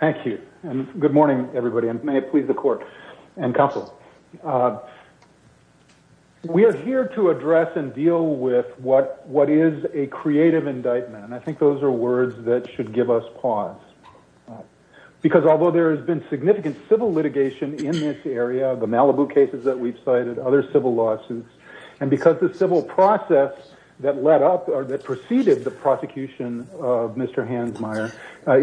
Thank you. And good morning, everybody. And may it please the court and counsel. We are here to address and deal with what what is a creative indictment. And I think those are words that should give us pause. Because although there has been significant civil litigation in this area, the Malibu cases that we've cited, other civil lawsuits, and because the civil process that led up or that preceded the prosecution of Mr. Hansmeier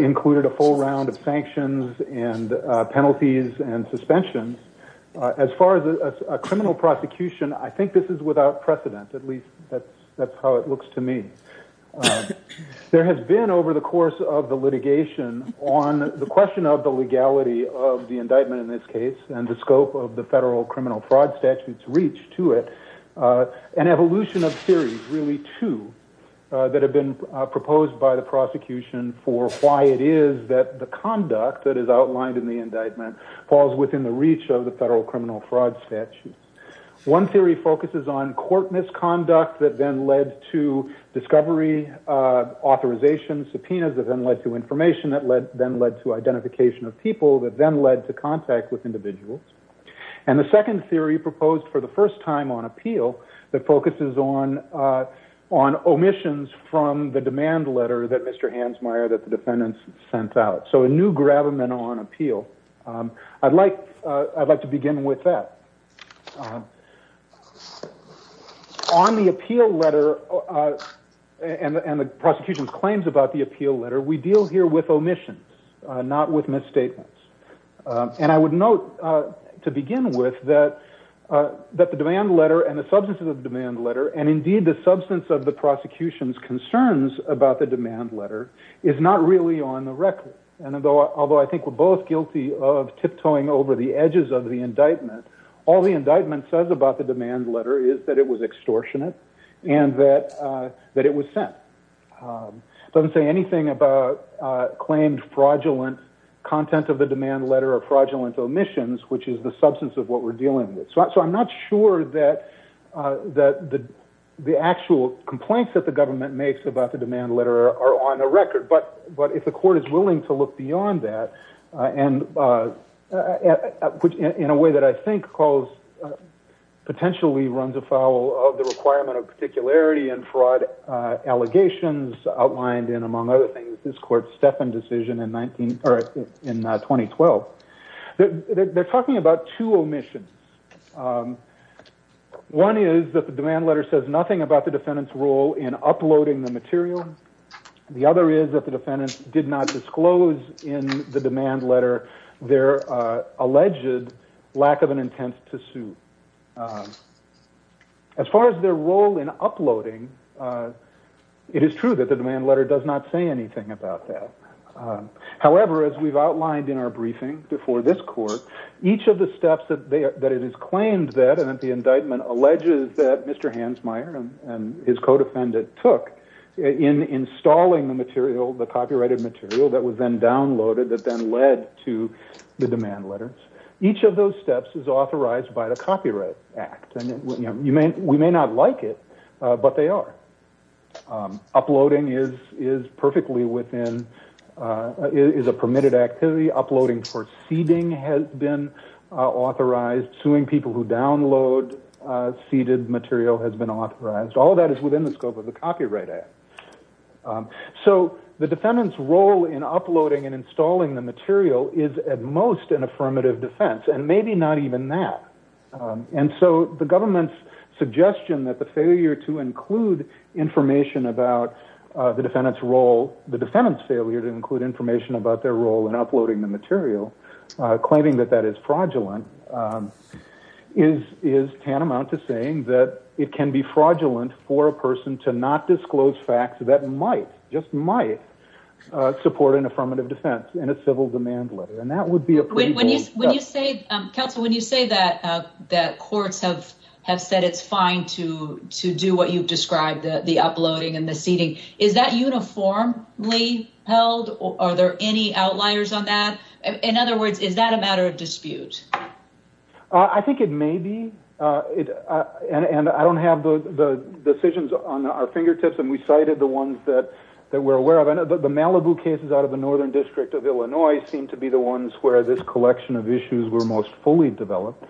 included a full round of sanctions and penalties and suspensions. As far as a criminal prosecution, I think this is without precedent. At least that's that's how it looks to me. There has been over the course of the litigation on the question of the legality of the indictment in this case, and the scope of the federal criminal fraud statutes reach to it, an evolution of series really to that have been proposed by the prosecution for why it is that the conduct that is outlined in the indictment falls within the reach of the federal criminal fraud statutes. One theory focuses on court misconduct that then led to discovery authorization subpoenas that then led to information that led then led to identification of people that then led to contact with individuals. And the second theory proposed for the first time on appeal that focuses on on omissions from the demand letter that Mr. Hansmeier that the defendants sent out. So a new gravamen on appeal. I'd like I'd like to begin with that. On the appeal letter and the prosecution's claims about the appeal letter, we deal here with omissions, not with misstatements. And I would note to begin with that that the demand letter and the substance of the demand letter and indeed the substance of the prosecution's concerns about the demand letter is not really on the record. And although I think we're both guilty of tiptoeing over the edges of the indictment, all the indictment says about the demand letter is that it was extortionate and that that it was sent doesn't say anything about claimed fraudulent content of the demand letter or fraudulent omissions, which is the substance of what we're dealing with. So I'm not sure that that the actual complaints that the government makes about the demand letter are on the record. But but if the court is willing to look beyond that and put it in a way that I think calls potentially runs afoul of the requirement of particularity and fraud allegations outlined in, among other things, this court's Stefan decision in 19 or in 2012. They're talking about two omissions. One is that the demand letter says nothing about the defendant's role in uploading the material. The other is that the defendant did not disclose in the demand letter their alleged lack of an intent to sue. As far as their role in uploading, it is true that the demand letter does not say anything about that. However, as we've outlined in our briefing before this court, each of the steps that they that it is claimed that and that the indictment alleges that Mr. Hansmeier and his codefendant took in installing the material, the copyrighted material that was then downloaded that then led to the demand letters. Each of those steps is authorized by the Copyright Act. And you may we may not like it, but they are uploading is is perfectly within is a permitted activity. Uploading for seeding has been authorized suing people who download seeded material has been authorized. All that is within the scope of the Copyright Act. So the defendant's role in uploading and installing the material is at most an affirmative defense and maybe not even that. And so the government's suggestion that the failure to include information about the defendant's role, the defendant's failure to include information about their role in uploading the material, claiming that that is fraudulent, is is tantamount to saying that it can be fraudulent for a person to not disclose facts that might just might support an affirmative defense in a civil demand letter. And that would be when you when you say counsel, when you say that, that courts have have said it's fine to to do what you've described the uploading and the seeding. Is that uniformly held? Are there any outliers on that? In other words, is that a matter of dispute? I think it may be. And I don't have the decisions on our fingertips. And we cited the ones that that we're aware of. And the Malibu cases out of the northern district of Illinois seem to be the ones where this collection of issues were most fully developed.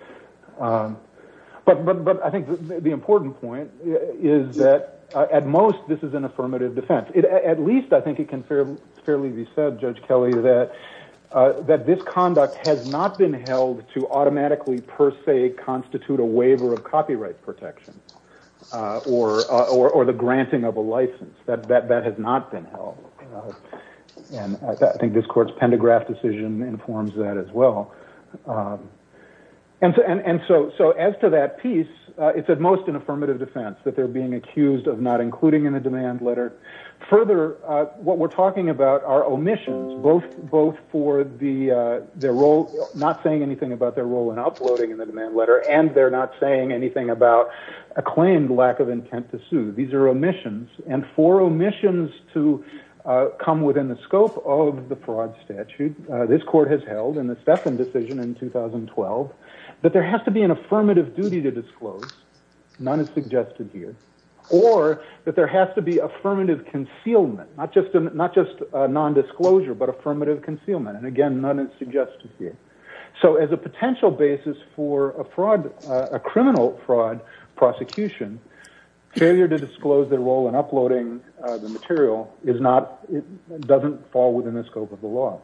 But I think the important point is that at most this is an affirmative defense. At least I think it can fairly be said, Judge Kelly, that that this conduct has not been held to automatically per se constitute a waiver of copyright protection or or the granting of a license. That that that has not been held. And I think this court's pendograph decision informs that as well. And and so so as to that piece, it's at most an affirmative defense that they're being accused of not including in the demand letter. Further, what we're talking about are omissions, both both for the their role, not saying anything about their role in uploading in the demand letter. And they're not saying anything about a claimed lack of intent to sue. These are omissions and for omissions to come within the scope of the fraud statute. This court has held in the Steffen decision in 2012 that there has to be an affirmative duty to disclose. None is suggested here or that there has to be affirmative concealment, not just not just nondisclosure, but affirmative concealment. And again, none is suggested here. So as a potential basis for a fraud, a criminal fraud prosecution, failure to disclose their role in uploading the material is not it doesn't fall within the scope of the law.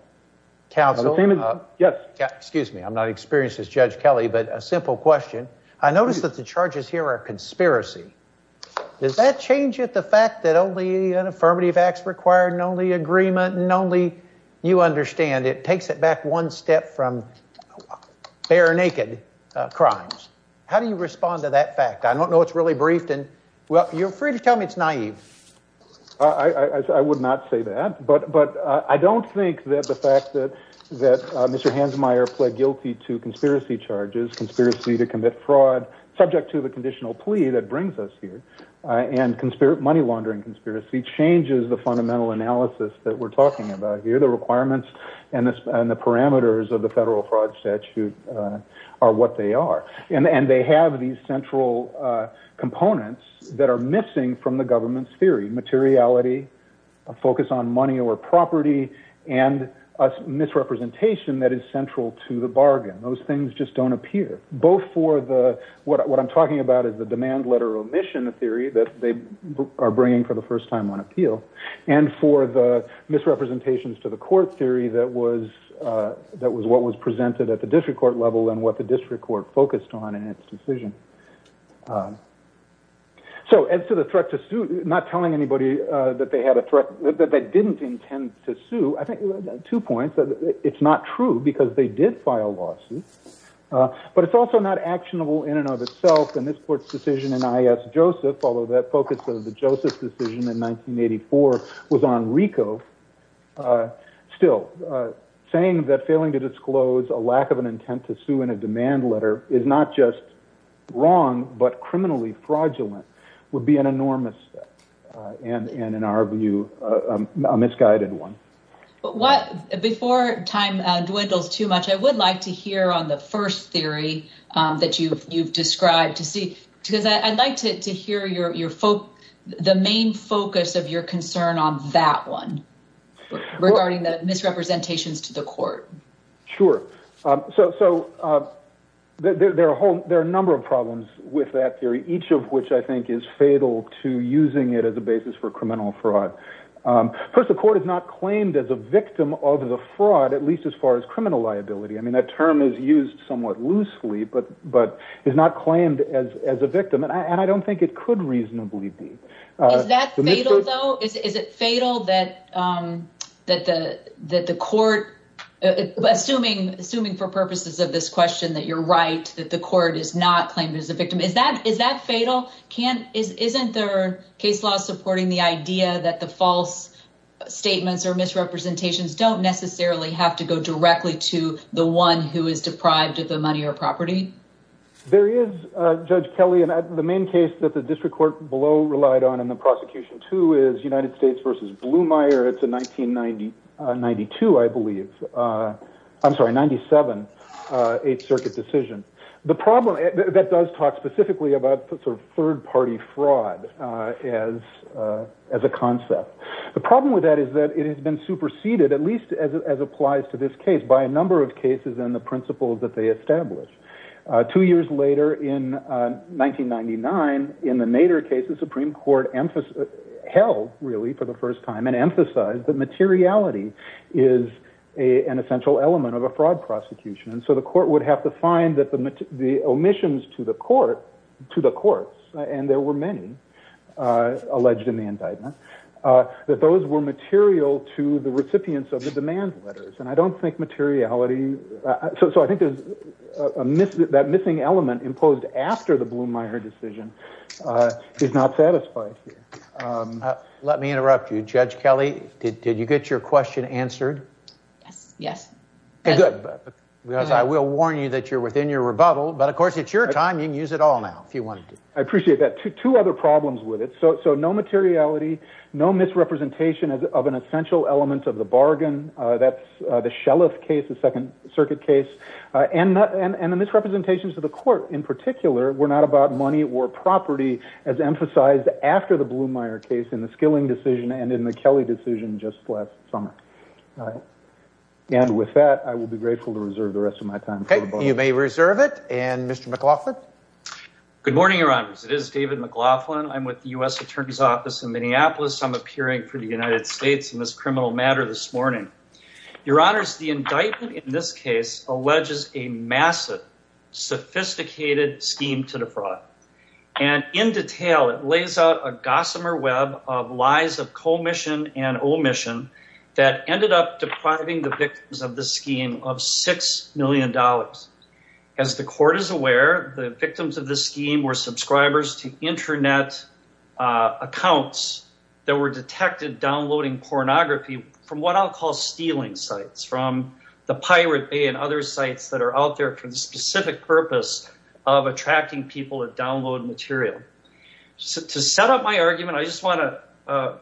Yes, excuse me. I'm not experienced as Judge Kelly, but a simple question. I noticed that the charges here are conspiracy. Does that change at the fact that only an affirmative acts required and only agreement and only you understand it takes it back one step from bare naked crimes? How do you respond to that fact? I don't know. It's really briefed. And well, you're free to tell me it's naive. I would not say that. But but I don't think that the fact that that Mr. Hansmeier pled guilty to conspiracy charges, conspiracy to commit fraud subject to the conditional plea that brings us here. And conspiracy money laundering conspiracy changes the fundamental analysis that we're talking about here, the requirements and the parameters of the federal fraud statute are what they are. And they have these central components that are missing from the government's theory, materiality, a focus on money or property and misrepresentation that is central to the bargain. Those things just don't appear both for the what I'm talking about is the demand letter omission theory that they are bringing for the first time on appeal and for the misrepresentations to the court theory. That was what was presented at the district court level and what the district court focused on in its decision. So as to the threat to suit, not telling anybody that they had a threat that they didn't intend to sue. I think two points. It's not true because they did file lawsuits, but it's also not actionable in and of itself. And this court's decision in I.S. Joseph, although that focus of the Joseph decision in 1984 was on Rico still saying that failing to disclose a lack of an intent to sue in a demand letter is not just wrong, but criminally fraudulent would be an enormous and in our view, a misguided one. But what before time dwindles too much, I would like to hear on the first theory that you've you've described to see because I'd like to hear your your folk, the main focus of your concern on that one regarding the misrepresentations to the court. Sure. So so there are a whole there are a number of problems with that theory, each of which I think is fatal to using it as a basis for criminal fraud. First, the court is not claimed as a victim of the fraud, at least as far as criminal liability. I mean, that term is used somewhat loosely, but but is not claimed as as a victim. And I don't think it could reasonably be that fatal, though. Is it fatal that that the that the court assuming assuming for purposes of this question that you're right, that the court is not claimed as a victim? Is that is that fatal? Can isn't there case law supporting the idea that the false statements or misrepresentations don't necessarily have to go directly to the one who is deprived of the money or property? There is, Judge Kelly, and the main case that the district court below relied on in the prosecution, too, is United States versus Bluemeyer. It's a nineteen ninety ninety two, I believe. I'm sorry. Ninety seven. Eighth Circuit decision. The problem that does talk specifically about third party fraud as as a concept. The problem with that is that it has been superseded, at least as it applies to this case, by a number of cases and the principles that they establish. Two years later, in nineteen ninety nine, in the Nader case, the Supreme Court held really for the first time and emphasized that materiality is an essential element of a fraud prosecution. And so the court would have to find that the the omissions to the court, to the courts. And there were many alleged in the indictment that those were material to the recipients of the demand letters. And I don't think materiality. So I think there's a myth that missing element imposed after the Bluemeyer decision is not satisfied. Let me interrupt you, Judge Kelly. Did you get your question answered? Yes. Yes. Because I will warn you that you're within your rebuttal. But of course, it's your time. You can use it all now if you want. I appreciate that. Two other problems with it. So no materiality, no misrepresentation of an essential element of the bargain. That's the shell of cases, second circuit case and not and the misrepresentations to the court in particular. We're not about money or property, as emphasized after the Bluemeyer case in the skilling decision and in the Kelly decision just last summer. And with that, I will be grateful to reserve the rest of my time. You may reserve it. And Mr. McLaughlin. Good morning. It is David McLaughlin. I'm with the U.S. Attorney's Office in Minneapolis. I'm appearing for the United States in this criminal matter this morning. Your honors, the indictment in this case alleges a massive, sophisticated scheme to the fraud. And in detail, it lays out a gossamer web of lies of commission and omission that ended up depriving the victims of the scheme of six million dollars. As the court is aware, the victims of this scheme were subscribers to Internet accounts that were detected downloading pornography from what I'll call stealing sites, from the Pirate Bay and other sites that are out there for the specific purpose of attracting people to download material. So to set up my argument, I just want to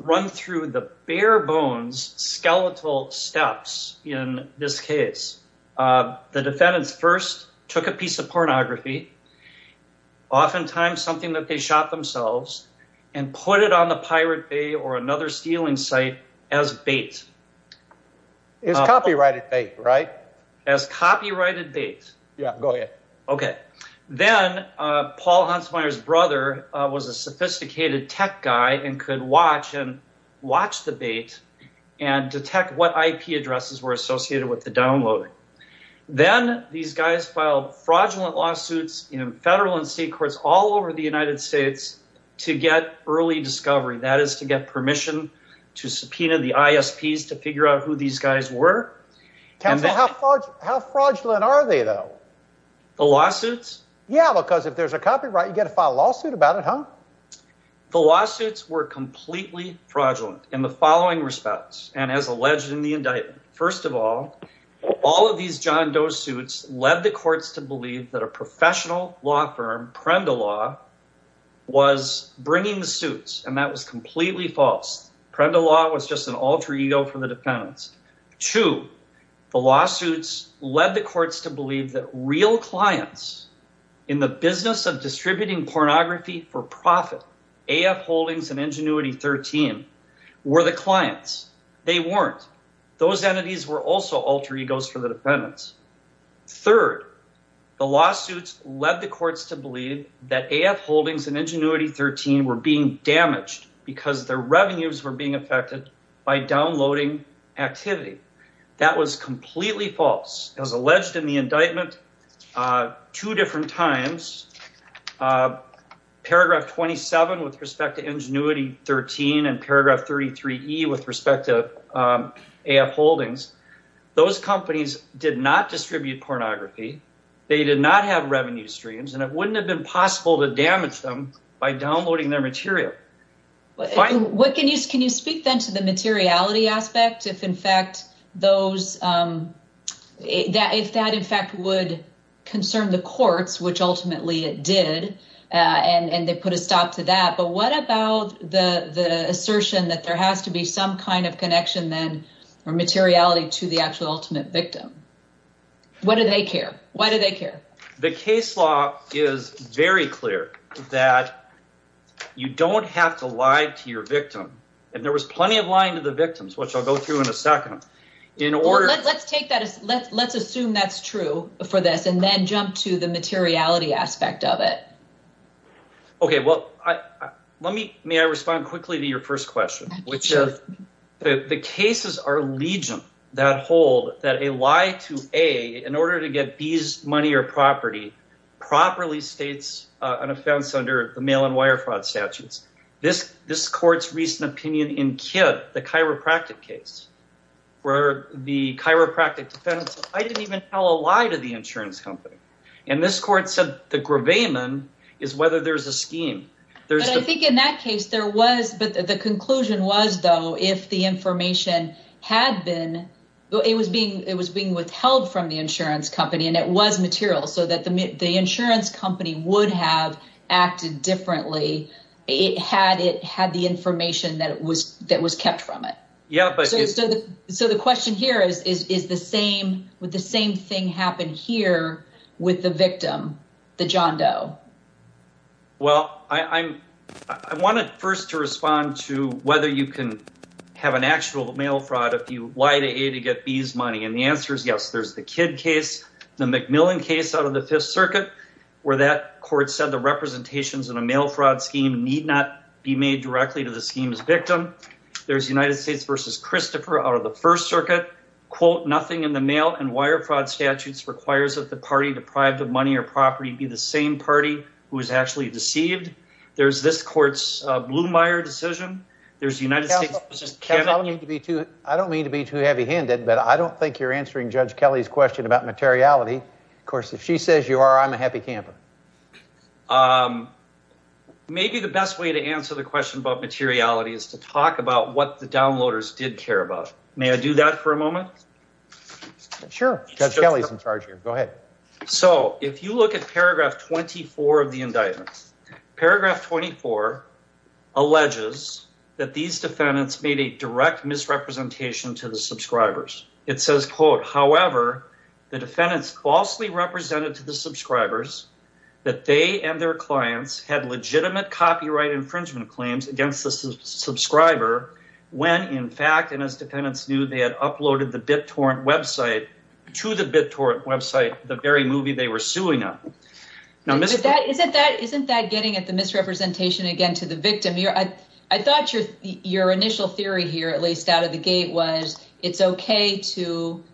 run through the bare bones skeletal steps. In this case, the defendants first took a piece of pornography, oftentimes something that they shot themselves and put it on the Pirate Bay or another stealing site as bait. It's copyrighted bait, right? As copyrighted bait. Yeah, go ahead. OK, then Paul Hansmeier's brother was a sophisticated tech guy and could watch and watch the bait and detect what IP addresses were associated with the downloading. Then these guys filed fraudulent lawsuits in federal and state courts all over the United States to get early discovery, that is to get permission to subpoena the ISPs to figure out who these guys were. How fraudulent are they, though? The lawsuits? Yeah, because if there's a copyright, you get to file a lawsuit about it, huh? The lawsuits were completely fraudulent in the following respects and as alleged in the indictment. First of all, all of these John Doe suits led the courts to believe that a professional law firm, Prenda Law, was bringing the suits. And that was completely false. Prenda Law was just an alter ego for the defendants. Two, the lawsuits led the courts to believe that real clients in the business of distributing pornography for profit, AF Holdings and Ingenuity 13, were the clients. They weren't. Those entities were also alter egos for the defendants. Third, the lawsuits led the courts to believe that AF Holdings and Ingenuity 13 were being damaged because their revenues were being affected by downloading activity. That was completely false. As alleged in the indictment, two different times, paragraph 27 with respect to Ingenuity 13 and paragraph 33E with respect to AF Holdings. Those companies did not distribute pornography. They did not have revenue streams and it wouldn't have been possible to damage them by downloading their material. Can you speak then to the materiality aspect, if that in fact would concern the courts, which ultimately it did, and they put a stop to that. But what about the assertion that there has to be some kind of connection then or materiality to the actual ultimate victim? Why do they care? The case law is very clear that you don't have to lie to your victim. And there was plenty of lying to the victims, which I'll go through in a second. Let's assume that's true for this and then jump to the materiality aspect of it. May I respond quickly to your first question? The cases are legion that hold that a lie to A in order to get B's money or property properly states an offense under the mail and wire fraud statutes. This court's recent opinion in Kidd, the chiropractic case, where the chiropractic defendant said, I didn't even tell a lie to the insurance company. And this court said the gravamen is whether there's a scheme. There's I think in that case there was. But the conclusion was, though, if the information had been it was being it was being withheld from the insurance company and it was material so that the insurance company would have acted differently. It had it had the information that it was that was kept from it. So the question here is, is the same with the same thing happen here with the victim, the John Doe? Well, I'm I want to first to respond to whether you can have an actual mail fraud if you lie to A to get B's money. And the answer is, yes, there's the Kidd case, the Macmillan case out of the Fifth Circuit, where that court said the representations in a mail fraud scheme need not be made directly to the scheme's victim. There's United States versus Christopher out of the First Circuit. Quote, nothing in the mail and wire fraud statutes requires that the party deprived of money or property be the same party who is actually deceived. There's this court's Blumeyer decision. There's United States. I don't mean to be too heavy handed, but I don't think you're answering Judge Kelly's question about materiality. Of course, if she says you are, I'm a happy camper. Maybe the best way to answer the question about materiality is to talk about what the downloaders did care about. May I do that for a moment? Sure. Kelly's in charge here. Go ahead. So if you look at paragraph 24 of the indictments, paragraph 24 alleges that these defendants made a direct misrepresentation to the subscribers. It says, quote, however, the defendants falsely represented to the subscribers that they and their clients had legitimate copyright infringement claims against the subscriber. When, in fact, and as defendants knew, they had uploaded the BitTorrent website to the BitTorrent website, the very movie they were suing up. Now, isn't that getting at the misrepresentation again to the victim? I thought your initial theory here, at least out of the gate, was it's OK to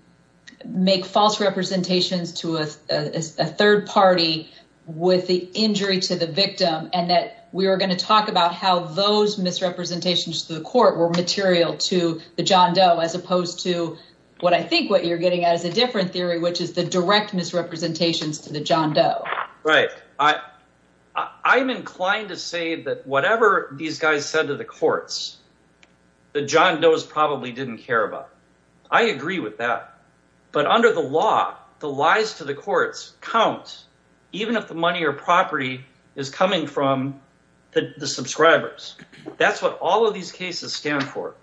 make false representations to a third party with the injury to the victim. And that we are going to talk about how those misrepresentations to the court were material to the John Doe, as opposed to what I think what you're getting at is a different theory, which is the direct misrepresentations to the John Doe. I'm inclined to say that whatever these guys said to the courts, the John Doe's probably didn't care about. I agree with that. But under the law, the lies to the courts count, even if the money or property is coming from the subscribers. That's what all of these cases stand for.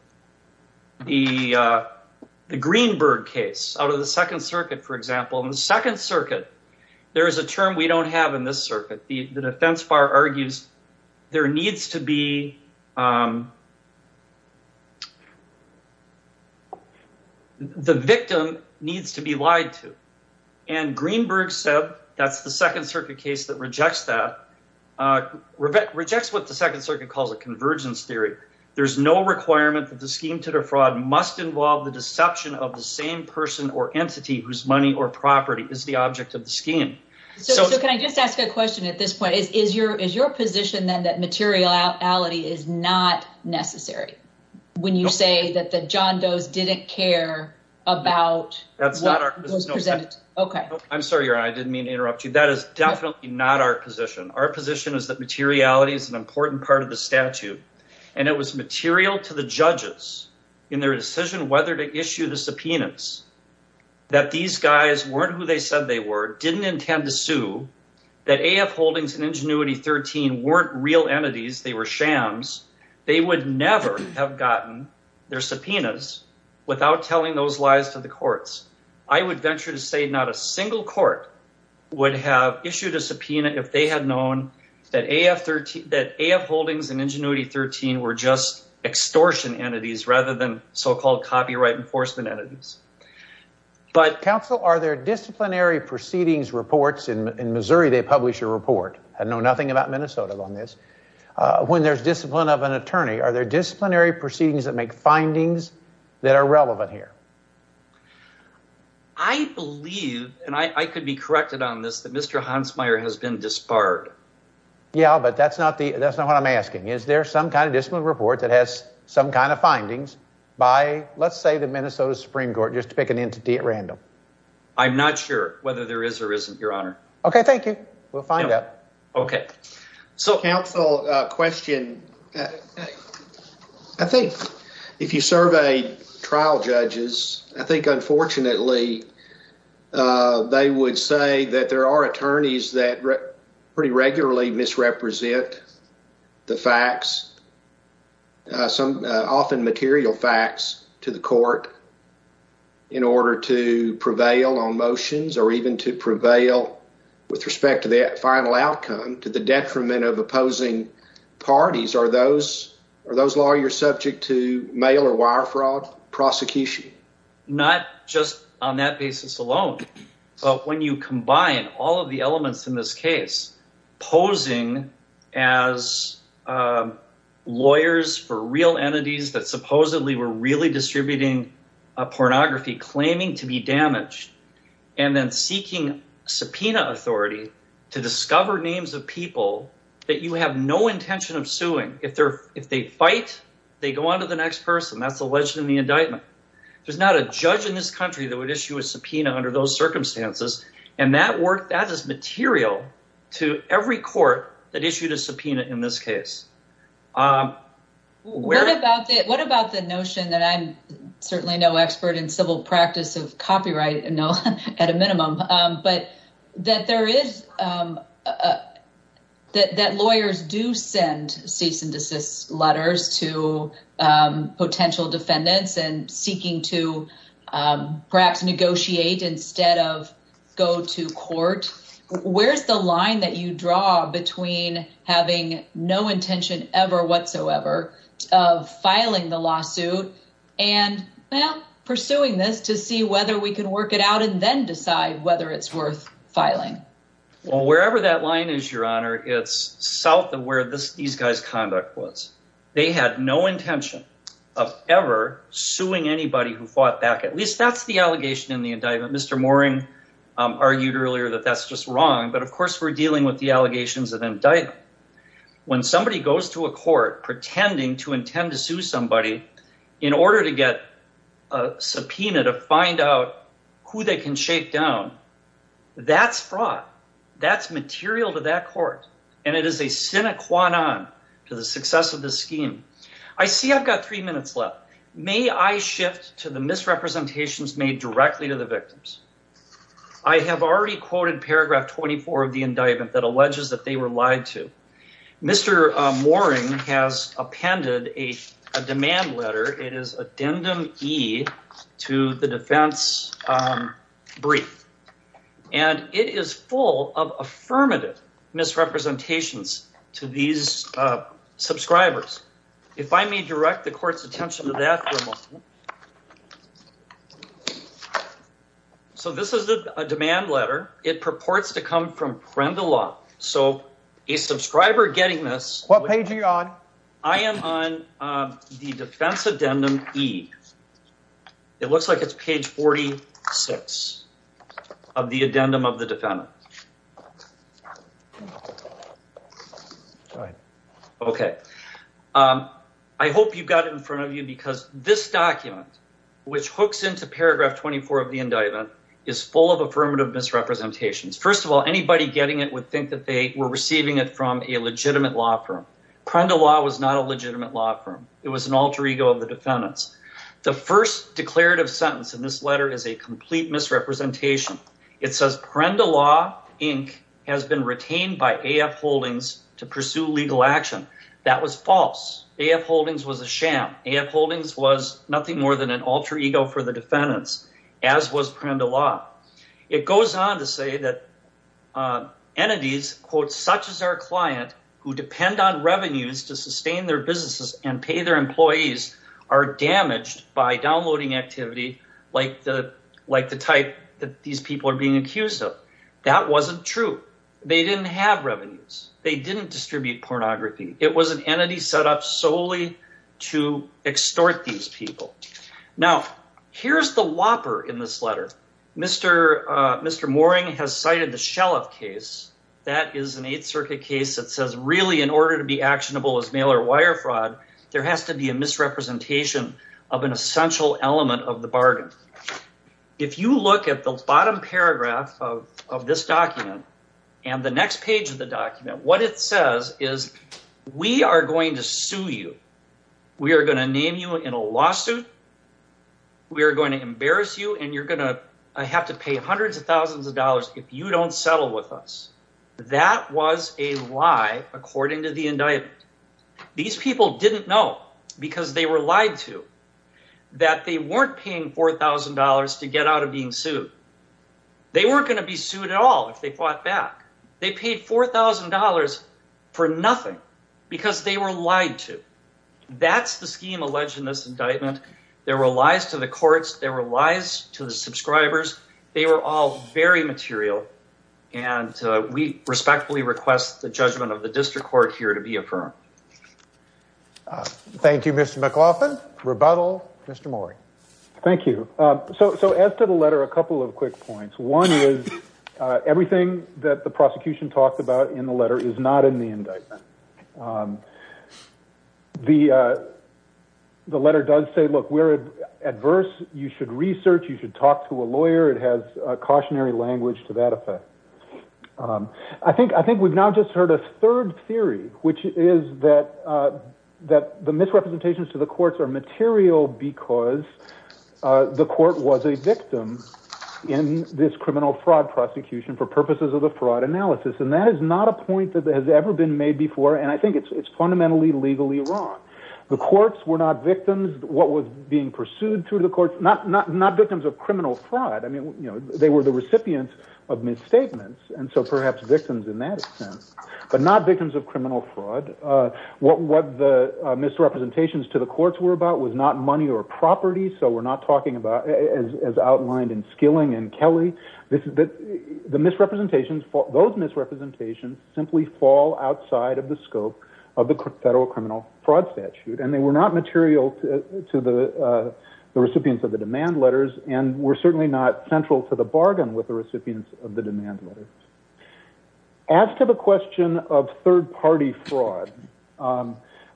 The Greenberg case out of the Second Circuit, for example, in the Second Circuit, there is a term we don't have in this circuit. The defense bar argues there needs to be. The victim needs to be lied to. And Greenberg said that's the Second Circuit case that rejects that rejects what the Second Circuit calls a convergence theory. There's no requirement that the scheme to defraud must involve the deception of the same person or entity whose money or property is the object of the scheme. So can I just ask a question at this point? Is your is your position then that materiality is not necessary when you say that the John Doe's didn't care about? That's not our. OK, I'm sorry. I didn't mean to interrupt you. That is definitely not our position. Our position is that materiality is an important part of the statute. And it was material to the judges in their decision whether to issue the subpoenas that these guys weren't who they said they were, didn't intend to sue, that AF Holdings and Ingenuity 13 weren't real entities. They were shams. They would never have gotten their subpoenas without telling those lies to the courts. I would venture to say not a single court would have issued a subpoena if they had known that AF Holdings and Ingenuity 13 were just extortion entities rather than so-called copyright enforcement entities. But, counsel, are there disciplinary proceedings reports? In Missouri, they publish a report. I know nothing about Minnesota on this. When there's discipline of an attorney, are there disciplinary proceedings that make findings that are relevant here? I believe, and I could be corrected on this, that Mr. Hansmeier has been disbarred. Yeah, but that's not what I'm asking. Is there some kind of discipline report that has some kind of findings by, let's say, the Minnesota Supreme Court, just to pick an entity at random? I'm not sure whether there is or isn't, Your Honor. OK, thank you. We'll find out. OK. So, counsel, question. I think if you survey trial judges, I think, unfortunately, they would say that there are attorneys that pretty regularly misrepresent the facts, often material facts, to the court in order to prevail on motions or even to prevail with respect to the final outcome to the detriment of opposing parties. Are those lawyers subject to mail or wire fraud prosecution? Not just on that basis alone, but when you combine all of the elements in this case, posing as lawyers for real entities that supposedly were really distributing pornography, claiming to be damaged, and then seeking subpoena authority to discover names of people that you have no intention of suing. If they fight, they go on to the next person. That's alleged in the indictment. There's not a judge in this country that would issue a subpoena under those circumstances, and that is material to every court that issued a subpoena in this case. What about the notion that I'm certainly no expert in civil practice of copyright, at a minimum, but that lawyers do send cease and desist letters to potential defendants and seeking to perhaps negotiate instead of go to court? Where's the line that you draw between having no intention ever whatsoever of filing the lawsuit and pursuing this to see whether we can work it out and then decide whether it's worth filing? Well, wherever that line is, Your Honor, it's south of where these guys' conduct was. They had no intention of ever suing anybody who fought back. At least that's the allegation in the indictment. Mr. Mooring argued earlier that that's just wrong, but, of course, we're dealing with the allegations of indictment. When somebody goes to a court pretending to intend to sue somebody in order to get a subpoena to find out who they can shake down, that's fraud. That's material to that court, and it is a sine qua non to the success of this scheme. I see I've got three minutes left. May I shift to the misrepresentations made directly to the victims? I have already quoted paragraph 24 of the indictment that alleges that they were lied to. Mr. Mooring has appended a demand letter. It is Addendum E to the defense brief, and it is full of affirmative misrepresentations to these subscribers. If I may direct the court's attention to that for a moment. So this is a demand letter. It purports to come from Prendeloff, so a subscriber getting this. What page are you on? I am on the defense Addendum E. It looks like it's page 46 of the Addendum of the defendant. I hope you've got it in front of you because this document, which hooks into paragraph 24 of the indictment, is full of affirmative misrepresentations. First of all, anybody getting it would think that they were receiving it from a legitimate law firm. Prendeloff was not a legitimate law firm. It was an alter ego of the defendant's. The first declarative sentence in this letter is a complete misrepresentation. It says Prendeloff Inc. has been retained by AF Holdings to pursue legal action. That was false. AF Holdings was a sham. AF Holdings was nothing more than an alter ego for the defendants, as was Prendeloff. It goes on to say that entities, such as our client, who depend on revenues to sustain their businesses and pay their employees, are damaged by downloading activity like the type that these people are being accused of. That wasn't true. They didn't have revenues. They didn't distribute pornography. It was an entity set up solely to extort these people. Now, here's the whopper in this letter. Mr. Mooring has cited the Shellef case. That is an Eighth Circuit case that says really in order to be actionable as mail-or-wire fraud, there has to be a misrepresentation of an essential element of the bargain. If you look at the bottom paragraph of this document and the next page of the document, what it says is we are going to sue you. We are going to name you in a lawsuit. We are going to embarrass you, and you're going to have to pay hundreds of thousands of dollars if you don't settle with us. That was a lie according to the indictment. These people didn't know because they were lied to that they weren't paying $4,000 to get out of being sued. They weren't going to be sued at all if they fought back. They paid $4,000 for nothing because they were lied to. That's the scheme alleged in this indictment. There were lies to the courts. There were lies to the subscribers. They were all very material, and we respectfully request the judgment of the district court here to be affirmed. Thank you, Mr. McLaughlin. Rebuttal, Mr. Mooring. Thank you. So as to the letter, a couple of quick points. One is everything that the prosecution talked about in the letter is not in the indictment. The letter does say, look, we're adverse. You should research. You should talk to a lawyer. It has cautionary language to that effect. I think we've now just heard a third theory, which is that the misrepresentations to the courts are material because the court was a victim in this criminal fraud prosecution for purposes of the fraud analysis, and that is not a point that has ever been made before, and I think it's fundamentally legally wrong. The courts were not victims. What was being pursued through the courts, not victims of criminal fraud. They were the recipients of misstatements, and so perhaps victims in that sense, but not victims of criminal fraud. What the misrepresentations to the courts were about was not money or property, so we're not talking about as outlined in Skilling and Kelly. The misrepresentations, those misrepresentations simply fall outside of the scope of the federal criminal fraud statute, and they were not material to the recipients of the demand letters, and were certainly not central to the bargain with the recipients of the demand letters. As to the question of third-party fraud,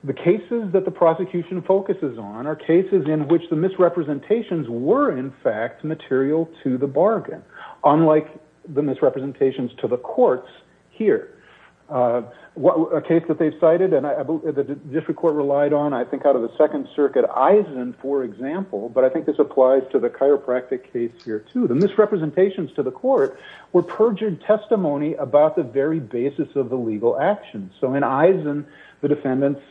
the cases that the prosecution focuses on are cases in which the misrepresentations were in fact material to the bargain, unlike the misrepresentations to the courts here. A case that they've cited, and the district court relied on, I think out of the Second Circuit, Eisen, for example, but I think this applies to the chiropractic case here, too. The misrepresentations to the court were perjured testimony about the very basis of the legal actions. So in Eisen, the defendants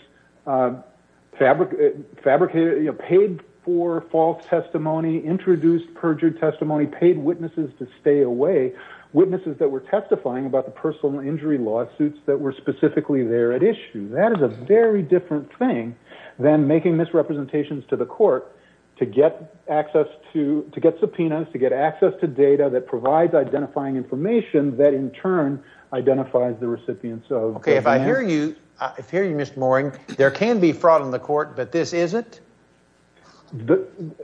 fabricated, paid for false testimony, introduced perjured testimony, paid witnesses to stay away, witnesses that were testifying about the personal injury lawsuits that were specifically there at issue. That is a very different thing than making misrepresentations to the court to get access to, to get subpoenas, to get access to data that provides identifying information that in turn identifies the recipients of demands. Okay, if I hear you, if I hear you, Mr. Mooring, there can be fraud in the court, but this isn't?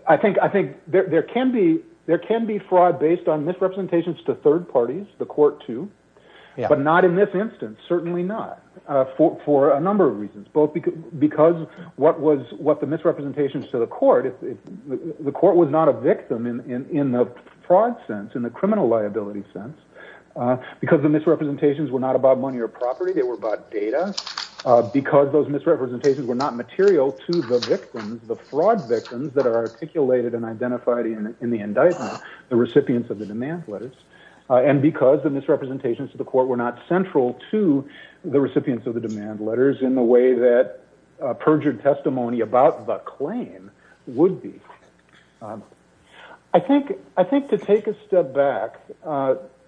I think there can be fraud based on misrepresentations to third parties, the court, too, but not in this instance, certainly not, for a number of reasons, both because what the misrepresentations to the court, the court was not a victim in the fraud sense, in the criminal liability sense, because the misrepresentations were not about money or property, they were about data, because those misrepresentations were not material to the victims, the fraud victims that are articulated and identified in the indictment, the recipients of the demand letters, and because the misrepresentations to the court were not central to the recipients of the demand letters in the way that perjured testimony about the claim would be. I think to take a step back,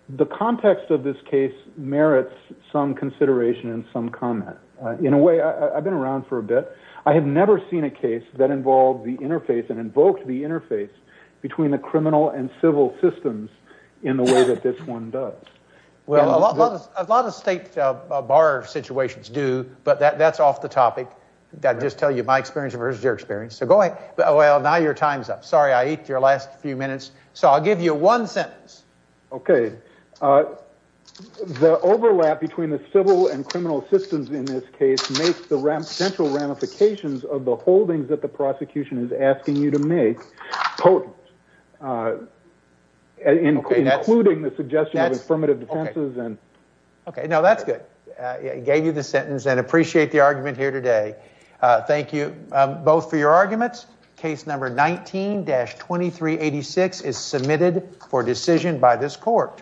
the context of this case merits some consideration and some comment. In a way, I've been around for a bit, I have never seen a case that involved the interface and invoked the interface between the criminal and civil systems in the way that this one does. Well, a lot of state bar situations do, but that's off the topic. I'll just tell you my experience versus your experience. So go ahead. Well, now your time's up. Sorry, I ate your last few minutes. So I'll give you one sentence. Okay. The overlap between the civil and criminal systems in this case makes the potential ramifications of the holdings that the prosecution is asking you to make potent, including the suggestion of affirmative defenses. Okay. No, that's good. I gave you the sentence and appreciate the argument here today. Thank you both for your arguments. Case number 19-2386 is submitted for decision by this court.